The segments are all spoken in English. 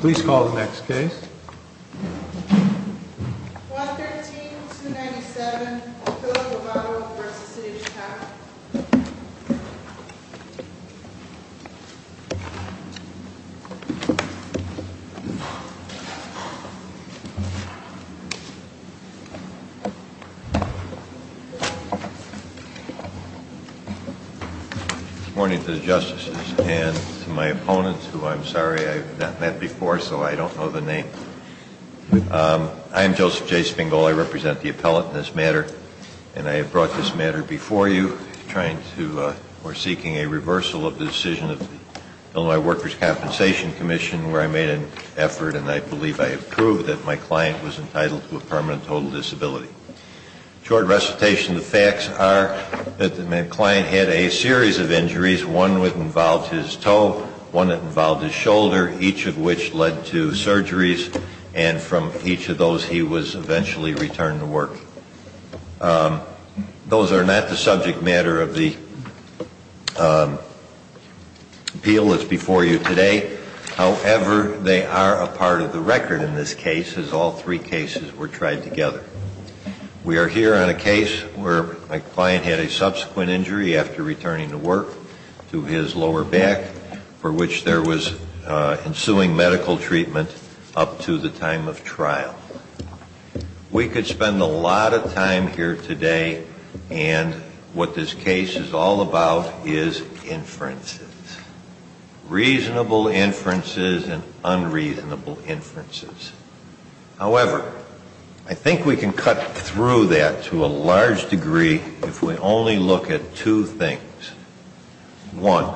Please call the next case. 113-297, Filipo Vado v. City of Chicago Good morning to the justices and to my opponents who I'm sorry I've not met before so I don't know the name. I'm Joseph J. Spingol. I represent the appellate in this matter and I have brought this matter before you seeking a reversal of the decision of the Illinois Workers' Compensation Commission where I made an effort and I believe I have proved that my client was entitled to a permanent total disability. In short recitation, the facts are that my client had a series of injuries, one that involved his toe, one that involved his shoulder, each of which led to surgeries and from each of those he was eventually returned to work. Those are not the subject matter of the appeal that's before you today. However, they are a part of the record in this case as all three cases were tried together. We are here on a case where my client had a subsequent injury after returning to work to his lower back for which there was ensuing medical treatment up to the time of trial. We could spend a lot of time here today and what this case is all about is inferences, reasonable inferences and unreasonable inferences. However, I think we can cut through that to a large degree if we only look at two things. One,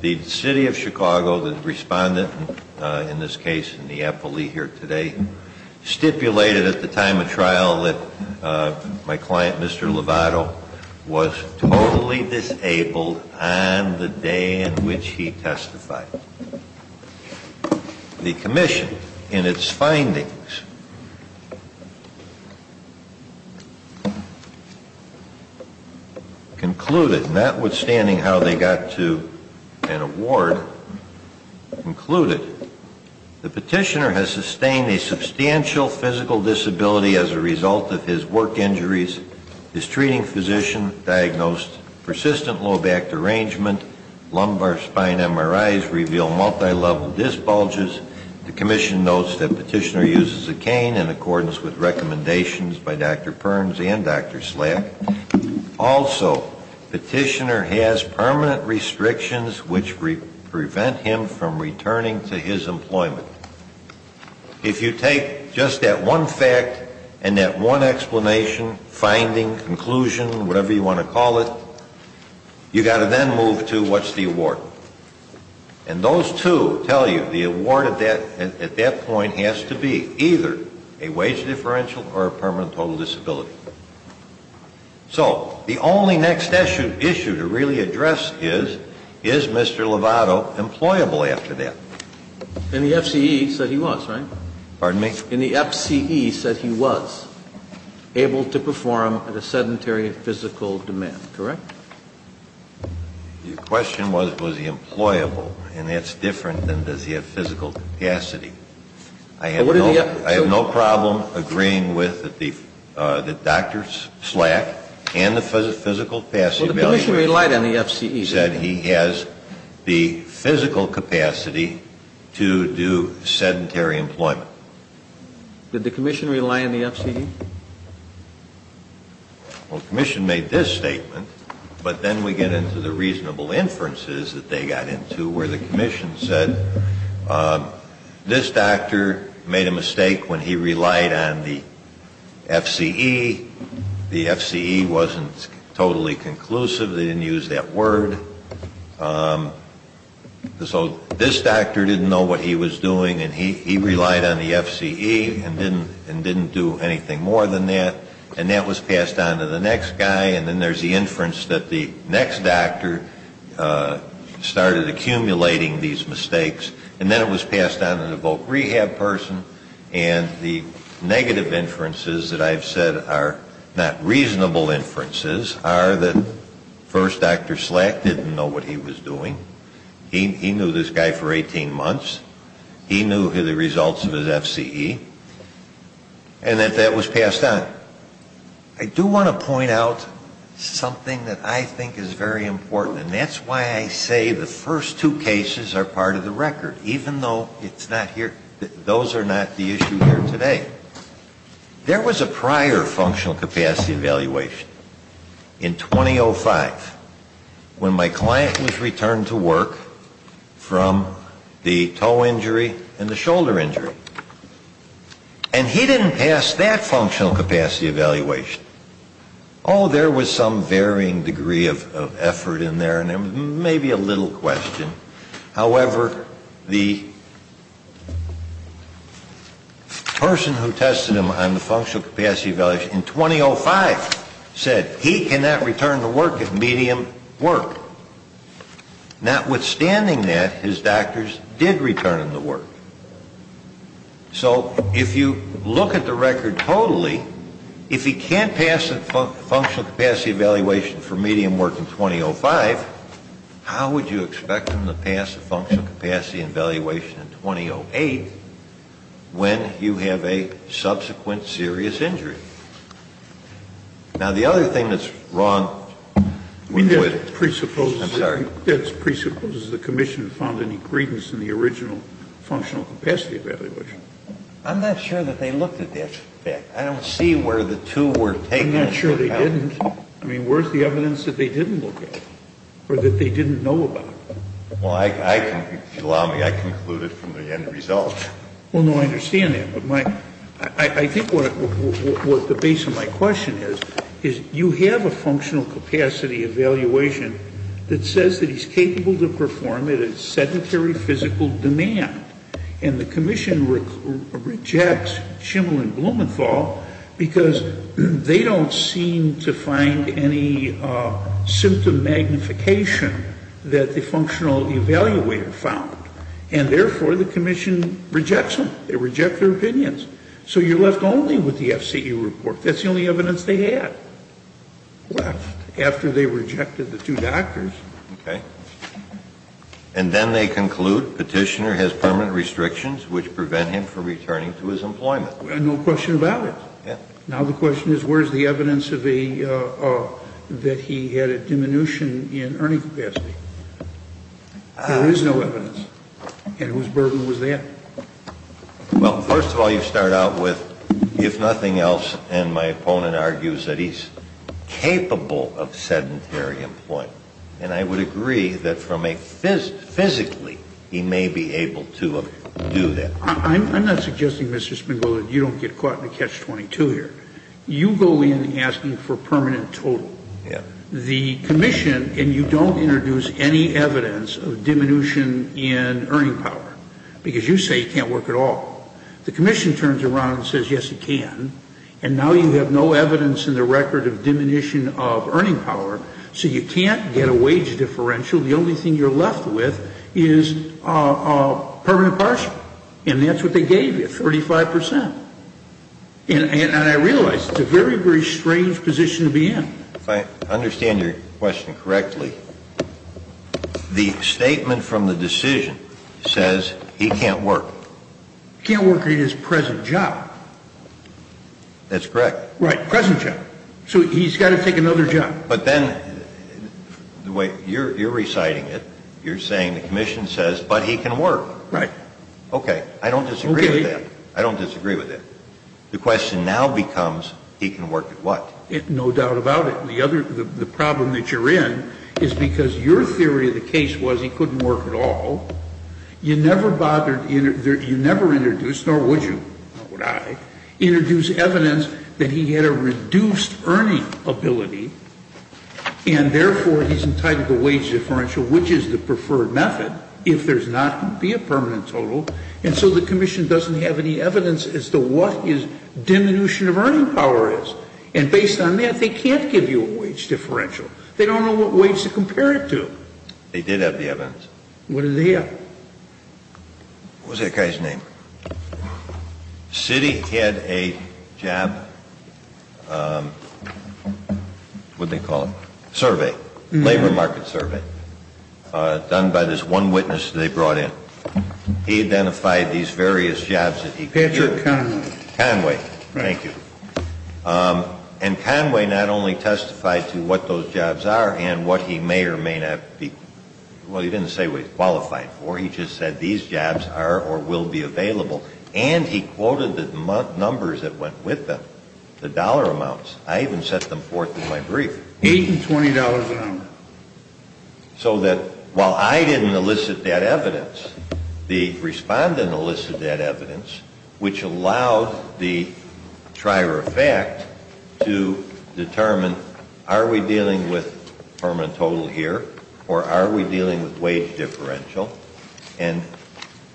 the City of Chicago, the respondent in this case in the appellee here today, stipulated at the time of trial that my client, Mr. Lovato, was totally disabled on the day in which he testified. The commission in its findings concluded, notwithstanding how they got to an award, concluded, the petitioner has sustained a substantial physical disability as a result of his work injuries. This treating physician diagnosed persistent low back derangement, lumbar spine MRIs reveal multilevel disc bulges. The commission notes that petitioner uses a cane in accordance with recommendations by Dr. Perns and Dr. Slack. Also, petitioner has permanent restrictions which prevent him from returning to his employment. If you take just that one fact and that one explanation, finding, conclusion, whatever you want to call it, you've got to then move to what's the award. And those two tell you the award at that point has to be either a wage differential or a permanent total disability. So the only next issue to really address is, is Mr. Lovato employable after that? And the FCE said he was, right? Pardon me? And the FCE said he was able to perform at a sedentary physical demand, correct? Your question was, was he employable, and that's different than does he have physical capacity. I have no problem agreeing with the Dr. Slack and the physical capacity. Well, the commission relied on the FCE. He said he has the physical capacity to do sedentary employment. Did the commission rely on the FCE? Well, the commission made this statement, but then we get into the reasonable inferences that they got into where the commission said this doctor made a mistake when he relied on the FCE. The FCE wasn't totally conclusive. They didn't use that word. So this doctor didn't know what he was doing, and he relied on the FCE and didn't do anything more than that. And that was passed on to the next guy, and then there's the inference that the next doctor started accumulating these mistakes, and then it was passed on to the voc rehab person. And the negative inferences that I've said are not reasonable inferences are that first, Dr. Slack didn't know what he was doing. He knew this guy for 18 months. He knew the results of his FCE, and that that was passed on. I do want to point out something that I think is very important, and that's why I say the first two cases are part of the record, even though it's not here. Those are not the issue here today. There was a prior functional capacity evaluation in 2005 when my client was returned to work from the toe injury and the shoulder injury. And he didn't pass that functional capacity evaluation. Oh, there was some varying degree of effort in there, and maybe a little question. However, the person who tested him on the functional capacity evaluation in 2005 said he cannot return to work at medium work. Notwithstanding that, his doctors did return him to work. So if you look at the record totally, if he can't pass a functional capacity evaluation for medium work in 2005, how would you expect him to pass a functional capacity evaluation in 2008 when you have a subsequent serious injury? Now, the other thing that's wrong with it is that it presupposes the commission found any credence in the original functional capacity evaluation. I'm not sure that they looked at that fact. I don't see where the two were taken. I'm not sure they didn't. I mean, where's the evidence that they didn't look at or that they didn't know about? Well, if you allow me, I concluded from the end result. Well, no, I understand that. But I think what the base of my question is, is you have a functional capacity evaluation that says that he's capable to perform at a sedentary physical demand. And the commission rejects Schiml and Blumenthal because they don't seem to find any symptom magnification that the functional evaluator found. And therefore, the commission rejects them. They reject their opinions. So you're left only with the FCE report. That's the only evidence they had left after they rejected the two doctors. Okay. And then they conclude Petitioner has permanent restrictions which prevent him from returning to his employment. No question about it. Yeah. Now the question is where's the evidence that he had a diminution in earning capacity? There is no evidence. And whose burden was that? Well, first of all, you start out with, if nothing else, and my opponent argues that he's capable of sedentary employment. And I would agree that physically he may be able to do that. I'm not suggesting, Mr. Spingol, that you don't get caught in a catch-22 here. You go in asking for permanent total. Yeah. The commission, and you don't introduce any evidence of diminution in earning power, because you say it can't work at all. The commission turns around and says, yes, it can. And now you have no evidence in the record of diminution of earning power. So you can't get a wage differential. The only thing you're left with is permanent partial. And that's what they gave you, 35 percent. And I realize it's a very, very strange position to be in. If I understand your question correctly, the statement from the decision says he can't work. He can't work at his present job. That's correct. Right. Present job. So he's got to take another job. But then the way you're reciting it, you're saying the commission says, but he can work. Right. Okay. I don't disagree with that. I don't disagree with that. The question now becomes, he can work at what? No doubt about it. The problem that you're in is because your theory of the case was he couldn't work at all. You never bothered, you never introduced, nor would you, nor would I, introduce evidence that he had a reduced earning ability, and therefore he's entitled to a wage differential, which is the preferred method if there's not to be a permanent total. And so the commission doesn't have any evidence as to what his diminution of earning power is. And based on that, they can't give you a wage differential. They don't know what wage to compare it to. They did have the evidence. What did they have? What was that guy's name? Citi had a job, what did they call it, survey, labor market survey, done by this one witness they brought in. He identified these various jobs that he could do. Patrick Conway. Conway. Thank you. And Conway not only testified to what those jobs are and what he may or may not be well, he didn't say what he's qualified for. He just said these jobs are or will be available. And he quoted the numbers that went with them, the dollar amounts. I even set them forth in my brief. Eight and $20 an hour. So that while I didn't elicit that evidence, the respondent elicited that evidence, which allows the trier of fact to determine are we dealing with permanent total here or are we dealing with wage differential. And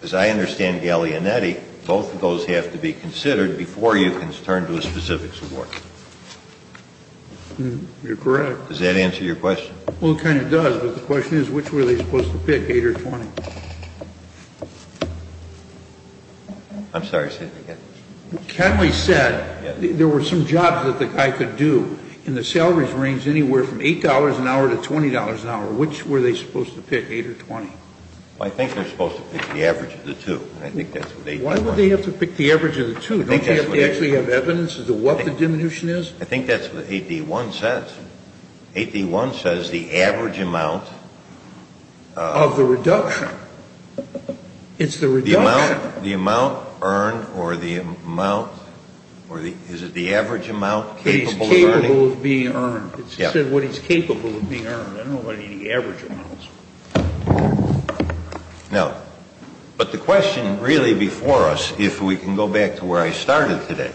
as I understand Gallianetti, both of those have to be considered before you can turn to a specific support. You're correct. Does that answer your question? Well, it kind of does, but the question is which were they supposed to pick, eight or 20? I'm sorry. Conway said there were some jobs that the guy could do, and the salaries ranged anywhere from $8 an hour to $20 an hour. Which were they supposed to pick, eight or 20? I think they're supposed to pick the average of the two. I think that's what 8D1 says. Why would they have to pick the average of the two? Don't they actually have evidence as to what the diminution is? I think that's what 8D1 says. 8D1 says the average amount. Of the reduction. It's the reduction. The amount earned or the amount, is it the average amount capable of earning? It's capable of being earned. It said what he's capable of being earned. I don't know about any average amounts. No. But the question really before us, if we can go back to where I started today,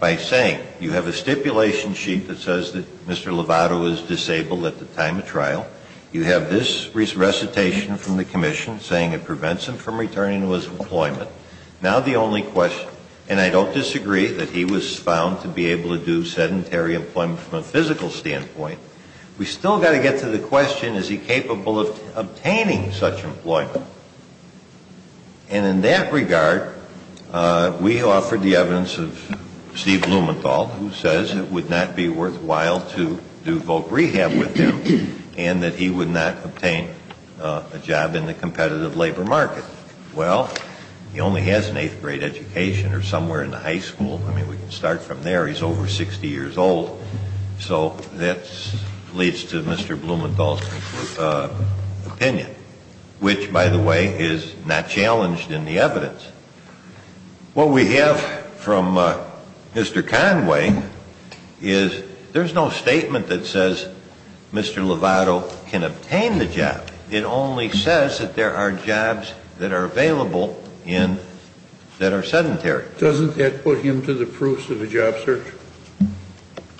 by saying you have a stipulation sheet that says that Mr. Lovato is disabled at the time of trial. You have this recitation from the commission saying it prevents him from returning to his employment. Now the only question, and I don't disagree that he was found to be able to do sedentary employment from a physical standpoint. We still got to get to the question, is he capable of obtaining such employment? And in that regard, we offered the evidence of Steve Blumenthal who says it would not be worthwhile to do voc rehab with him and that he would not obtain a job in the competitive labor market. Well, he only has an eighth grade education or somewhere in the high school. I mean, we can start from there. He's over 60 years old. So that leads to Mr. Blumenthal's opinion, which, by the way, is not challenged in the evidence. What we have from Mr. Conway is there's no statement that says Mr. Lovato can obtain the job. It only says that there are jobs that are available that are sedentary. Doesn't that put him to the proofs of a job search?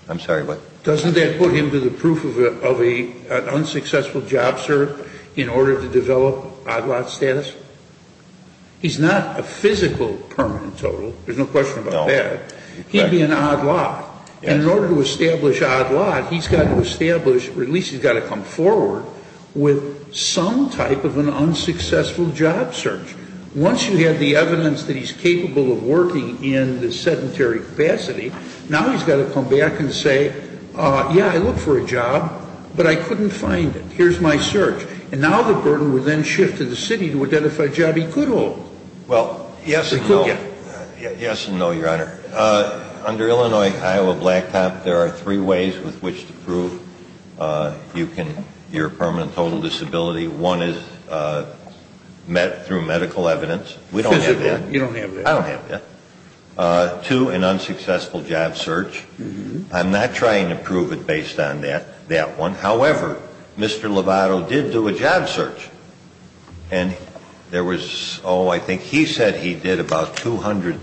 I'm sorry, what? Doesn't that put him to the proof of an unsuccessful job search in order to develop odd lot status? He's not a physical permanent total. There's no question about that. He'd be an odd lot. And in order to establish odd lot, he's got to establish or at least he's got to come forward with some type of an unsuccessful job search. Once you have the evidence that he's capable of working in the sedentary capacity, now he's got to come back and say, yeah, I look for a job, but I couldn't find it. Here's my search. And now the burden would then shift to the city to identify a job he could hold. Well, yes and no, Your Honor. Under Illinois-Iowa Blacktop, there are three ways with which to prove your permanent total disability. One is met through medical evidence. We don't have that. You don't have that. I don't have that. Two, an unsuccessful job search. I'm not trying to prove it based on that one. However, Mr. Lovato did do a job search. And there was, oh, I think he said he did about 200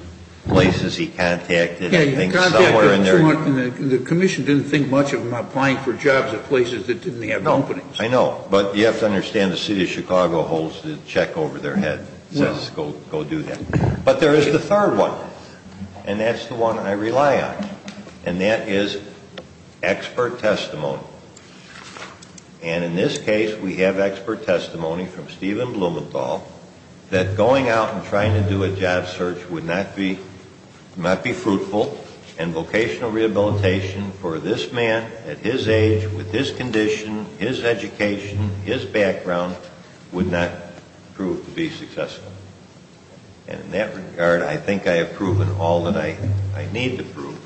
places he contacted, I think somewhere in there. The commission didn't think much of him applying for jobs at places that didn't have openings. I know, but you have to understand the city of Chicago holds the check over their head. It says go do that. But there is the third one, and that's the one I rely on, and that is expert testimony. And in this case, we have expert testimony from Stephen Blumenthal that going out and trying to do a job search would not be fruitful, and vocational rehabilitation for this man at his age, with this condition, his education, his background, would not prove to be successful. And in that regard, I think I have proven all that I need to prove.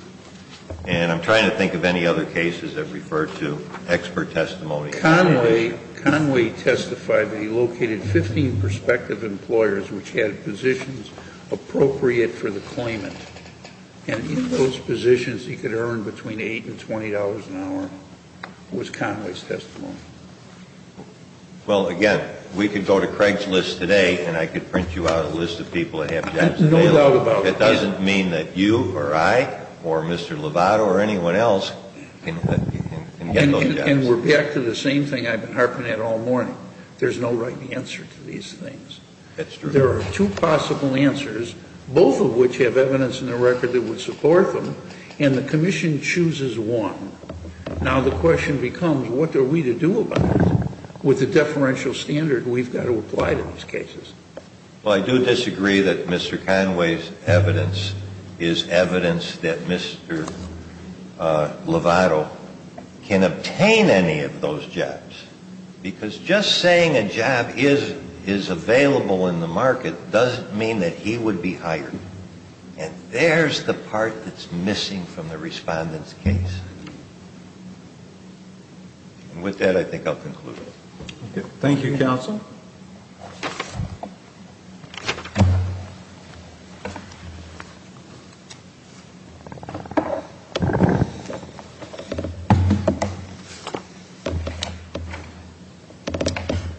And I'm trying to think of any other cases that refer to expert testimony. But Conway testified that he located 15 prospective employers which had positions appropriate for the claimant. And in those positions, he could earn between $8 and $20 an hour was Conway's testimony. Well, again, we could go to Craig's list today, and I could print you out a list of people that have jobs available. No doubt about it. It doesn't mean that you or I or Mr. Lovato or anyone else can get those jobs. And we're back to the same thing I've been harping at all morning. There's no right answer to these things. That's true. There are two possible answers, both of which have evidence in the record that would support them, and the Commission chooses one. Now the question becomes, what are we to do about this? With the deferential standard, we've got to apply to these cases. Well, I do disagree that Mr. Conway's evidence is evidence that Mr. Lovato can obtain any of those jobs. Because just saying a job is available in the market doesn't mean that he would be hired. And there's the part that's missing from the respondent's case. And with that, I think I'll conclude. Thank you, Counsel.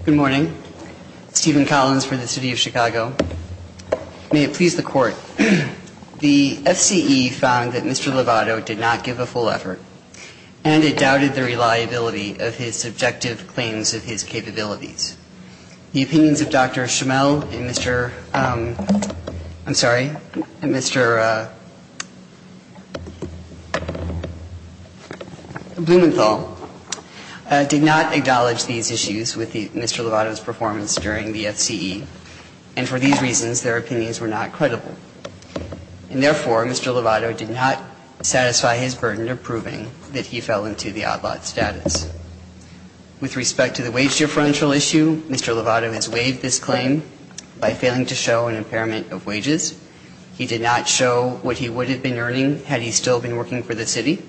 Good morning. Stephen Collins for the City of Chicago. May it please the Court. The F.C.E. found that Mr. Lovato did not give a full effort, and it doubted the reliability of his subjective claims of his capabilities. The opinions of Dr. Schimel and Mr. – I'm sorry – and Mr. Blumenthal did not acknowledge these issues with Mr. Lovato's performance during the F.C.E. And for these reasons, their opinions were not credible. And therefore, Mr. Lovato did not satisfy his burden of proving that he fell into the odd lot status. With respect to the wage deferential issue, Mr. Lovato has waived this claim by failing to show an impairment of wages. He did not show what he would have been earning had he still been working for the city.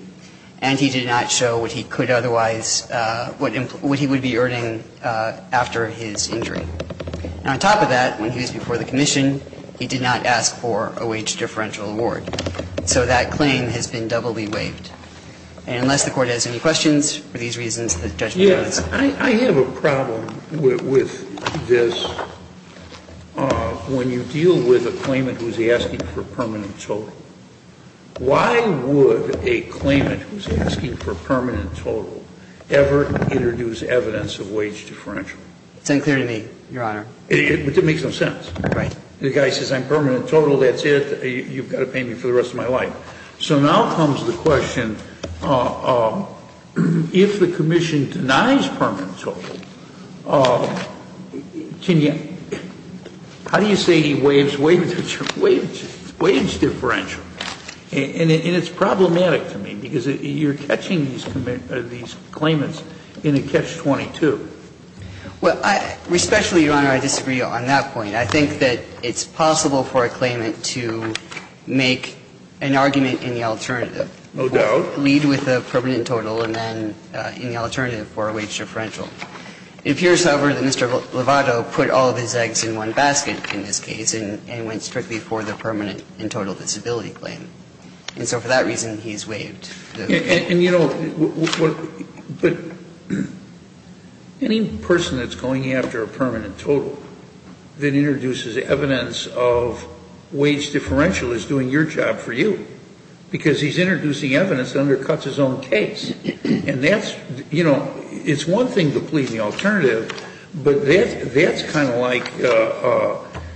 And he did not show what he could otherwise – what he would be earning after his injury. And on top of that, when he was before the commission, he did not ask for a wage deferential award. So that claim has been doubly waived. And unless the Court has any questions, for these reasons, the judgment is yours. I have a problem with this. When you deal with a claimant who is asking for permanent total, why would a claimant who is asking for permanent total ever introduce evidence of wage deferential? It's unclear to me, Your Honor. It makes no sense. Right. The guy says, I'm permanent total. That's it. You've got to pay me for the rest of my life. So now comes the question, if the commission denies permanent total, can you – how do you say he waives wage deferential? And it's problematic to me because you're catching these claimants in a catch-22. Well, respectfully, Your Honor, I disagree on that point. I think that it's possible for a claimant to make an argument in the alternative. No doubt. Lead with a permanent total and then in the alternative for a wage deferential. It appears, however, that Mr. Lovato put all of his eggs in one basket in this case and went strictly for the permanent and total disability claim. And so for that reason, he's waived. And, you know, any person that's going after a permanent total that introduces evidence of wage differential is doing your job for you because he's introducing evidence that undercuts his own case. And that's – you know, it's one thing to plead the alternative, but that's kind of like,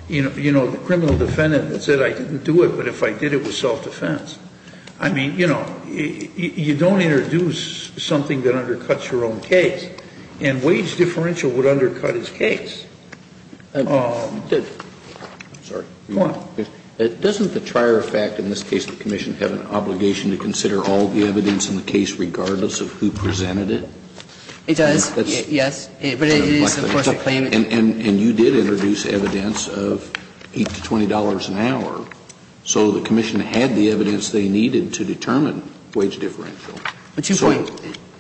you know, the criminal defendant that said, I didn't do it, but if I did, it was self-defense. I mean, you know, you don't introduce something that undercuts your own case. And wage differential would undercut his case. I'm sorry. Go on. Doesn't the trier effect in this case of the commission have an obligation to consider all the evidence in the case regardless of who presented it? It does, yes. But it is, of course, a claimant. And you did introduce evidence of $8 to $20 an hour. So the commission had the evidence they needed to determine wage differential. Two points.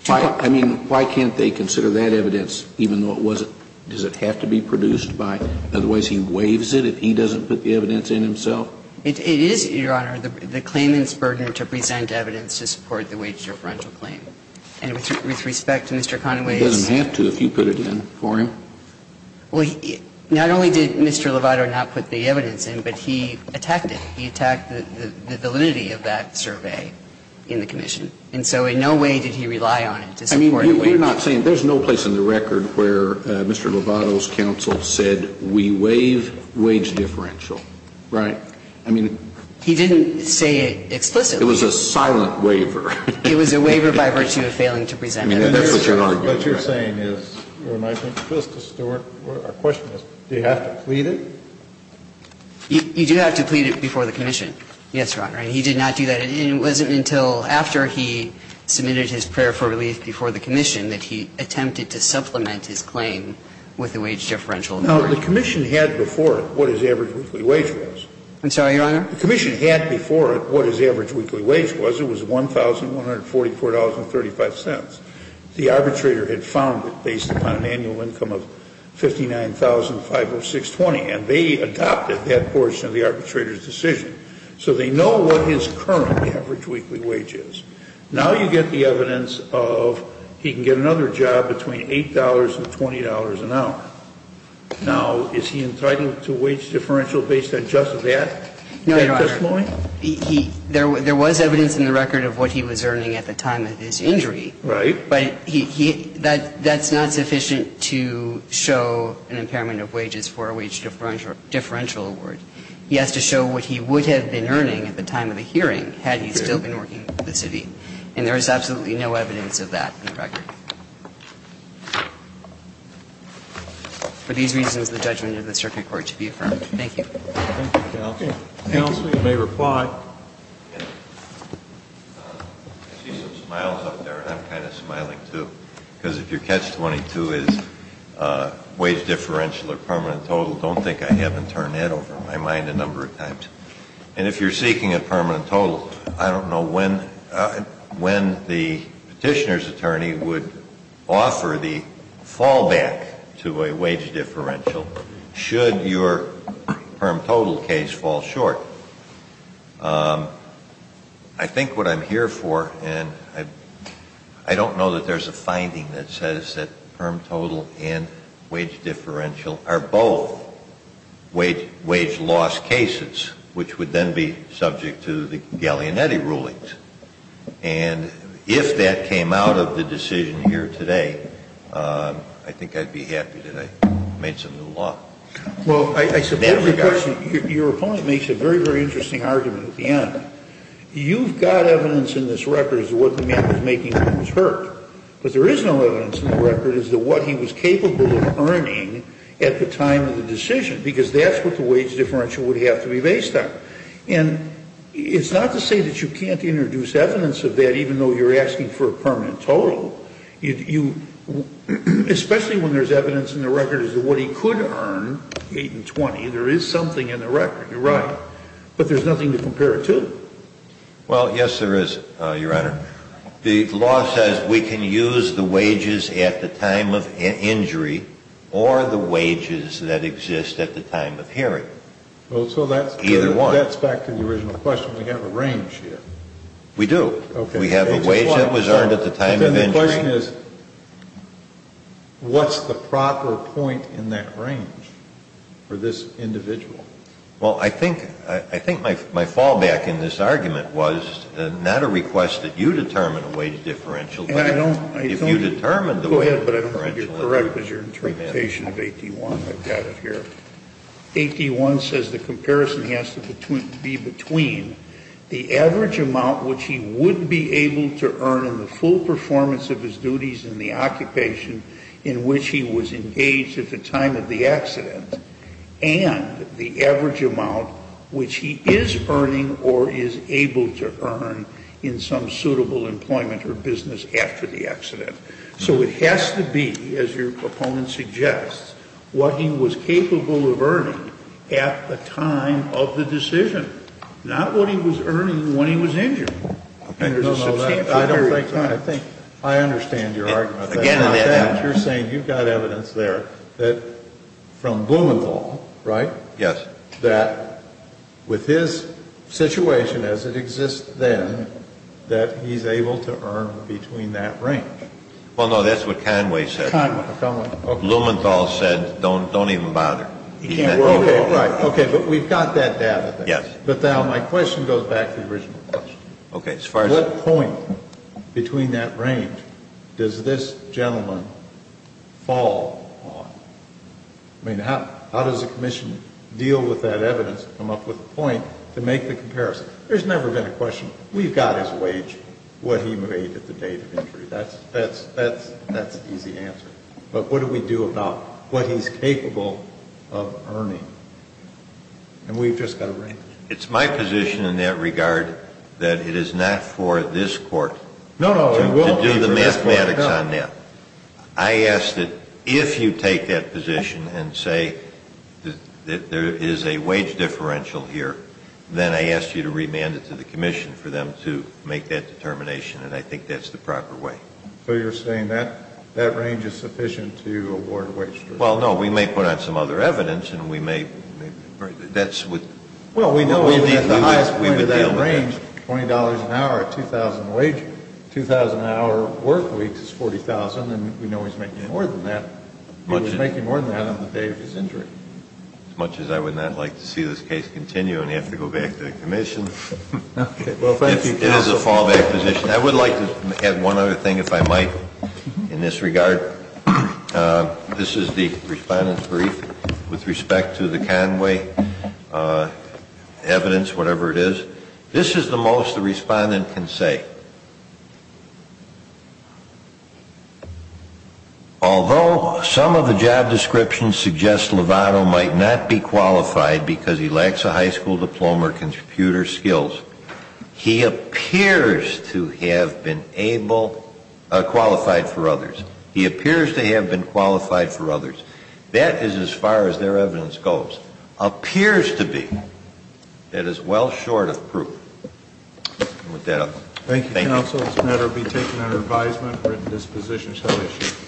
I mean, why can't they consider that evidence even though it wasn't? Does it have to be produced by – otherwise he waives it if he doesn't put the evidence in himself? It is, Your Honor, the claimant's burden to present evidence to support the wage differential claim. And with respect to Mr. Conaway's – He doesn't have to if you put it in for him. Well, not only did Mr. Lovato not put the evidence in, but he attacked it. He attacked the validity of that survey in the commission. And so in no way did he rely on it to support the wage differential. I mean, you're not saying – there's no place in the record where Mr. Lovato's counsel said we waive wage differential, right? I mean – He didn't say it explicitly. It was a silent waiver. It was a waiver by virtue of failing to present evidence. I mean, that's what you're arguing. What you're saying is, when I think of Justice Stewart, our question is, do you have to plead it? You do have to plead it before the commission. Yes, Your Honor. And he did not do that. It wasn't until after he submitted his prayer for relief before the commission that he attempted to supplement his claim with the wage differential. No, the commission had before it what his average weekly wage was. I'm sorry, Your Honor? The commission had before it what his average weekly wage was. It was $1,144.35. The arbitrator had found it based upon an annual income of $59,506.20, and they adopted that portion of the arbitrator's decision. So they know what his current average weekly wage is. Now you get the evidence of he can get another job between $8 and $20 an hour. Now, is he entitled to wage differential based on just that testimony? No, Your Honor. There was evidence in the record of what he was earning at the time of his injury. Right. But that's not sufficient to show an impairment of wages for a wage differential award. He has to show what he would have been earning at the time of the hearing had he still been working for the city. And there is absolutely no evidence of that in the record. For these reasons, the judgment of the circuit court to be affirmed. Thank you. Thank you, counsel. Counsel, you may reply. I see some smiles up there, and I'm kind of smiling, too. Because if your catch-22 is wage differential or permanent total, don't think I haven't turned that over in my mind a number of times. And if you're seeking a permanent total, I don't know when the petitioner's attorney would offer the fallback to a wage differential should your permanent total case fall short. I think what I'm here for, and I don't know that there's a finding that says that permanent total and wage differential are both wage loss cases, which would then be subject to the Gallianetti rulings. And if that came out of the decision here today, I think I'd be happy that I made some new law. Well, I suppose your opponent makes a very, very interesting argument at the end. You've got evidence in this record as to what the man was making when he was hurt. But there is no evidence in the record as to what he was capable of earning at the time of the decision, because that's what the wage differential would have to be based on. And it's not to say that you can't introduce evidence of that even though you're asking for a permanent total. Especially when there's evidence in the record as to what he could earn, 8 and 20, there is something in the record. You're right. But there's nothing to compare it to. Well, yes, there is, Your Honor. The law says we can use the wages at the time of injury or the wages that exist at the time of hearing. Well, so that's back to the original question. We have a range here. We do. We have a wage that was earned at the time of injury. Then the question is, what's the proper point in that range for this individual? Well, I think my fallback in this argument was not a request that you determine a wage differential, but if you determine the wage differential. Go ahead, but I don't think you're correct with your interpretation of 8D1. I've got it here. 8D1 says the comparison has to be between the average amount which he would be able to earn in the full performance of his duties in the occupation in which he was engaged at the time of the accident and the average amount which he is earning or is able to earn in some suitable employment or business after the accident. So it has to be, as your proponent suggests, what he was capable of earning at the time of the decision, not what he was earning when he was injured. No, no. I don't think so. I think I understand your argument. You're saying you've got evidence there that from Blumenthal, right? Yes. That with his situation as it exists then, that he's able to earn between that range. Well, no, that's what Conway said. Conway. Blumenthal said don't even bother. Okay. Right. Okay. But we've got that data. Yes. But now my question goes back to the original question. Okay. As far as what point between that range does this gentleman fall on? I mean, how does the commission deal with that evidence and come up with a point to make the comparison? There's never been a question. We've got his wage, what he made at the date of injury. That's an easy answer. But what do we do about what he's capable of earning? And we've just got a range. It's my position in that regard that it is not for this court to do the mathematics on that. I ask that if you take that position and say that there is a wage differential here, then I ask you to remand it to the commission for them to make that determination, and I think that's the proper way. So you're saying that range is sufficient to award a wage differential? Well, no. We may put on some other evidence, and we may be able to deal with that. Well, we know that the highest point of that range, $20 an hour, a $2,000 wage, $2,000 an hour work week is $40,000, and we know he's making more than that. He was making more than that on the day of his injury. As much as I would not like to see this case continue and have to go back to the commission. It is a fallback position. I would like to add one other thing, if I might, in this regard. This is the respondent's brief with respect to the Conway evidence, whatever it is. This is the most the respondent can say. Although some of the job descriptions suggest Lovato might not be qualified because he lacks a high school diploma or computer skills, he appears to have been able, qualified for others. He appears to have been qualified for others. That is as far as their evidence goes. Appears to be. That is well short of proof. I'll end with that. Thank you. Thank you, counsel. This matter will be taken under advisement. Written disposition shall issue.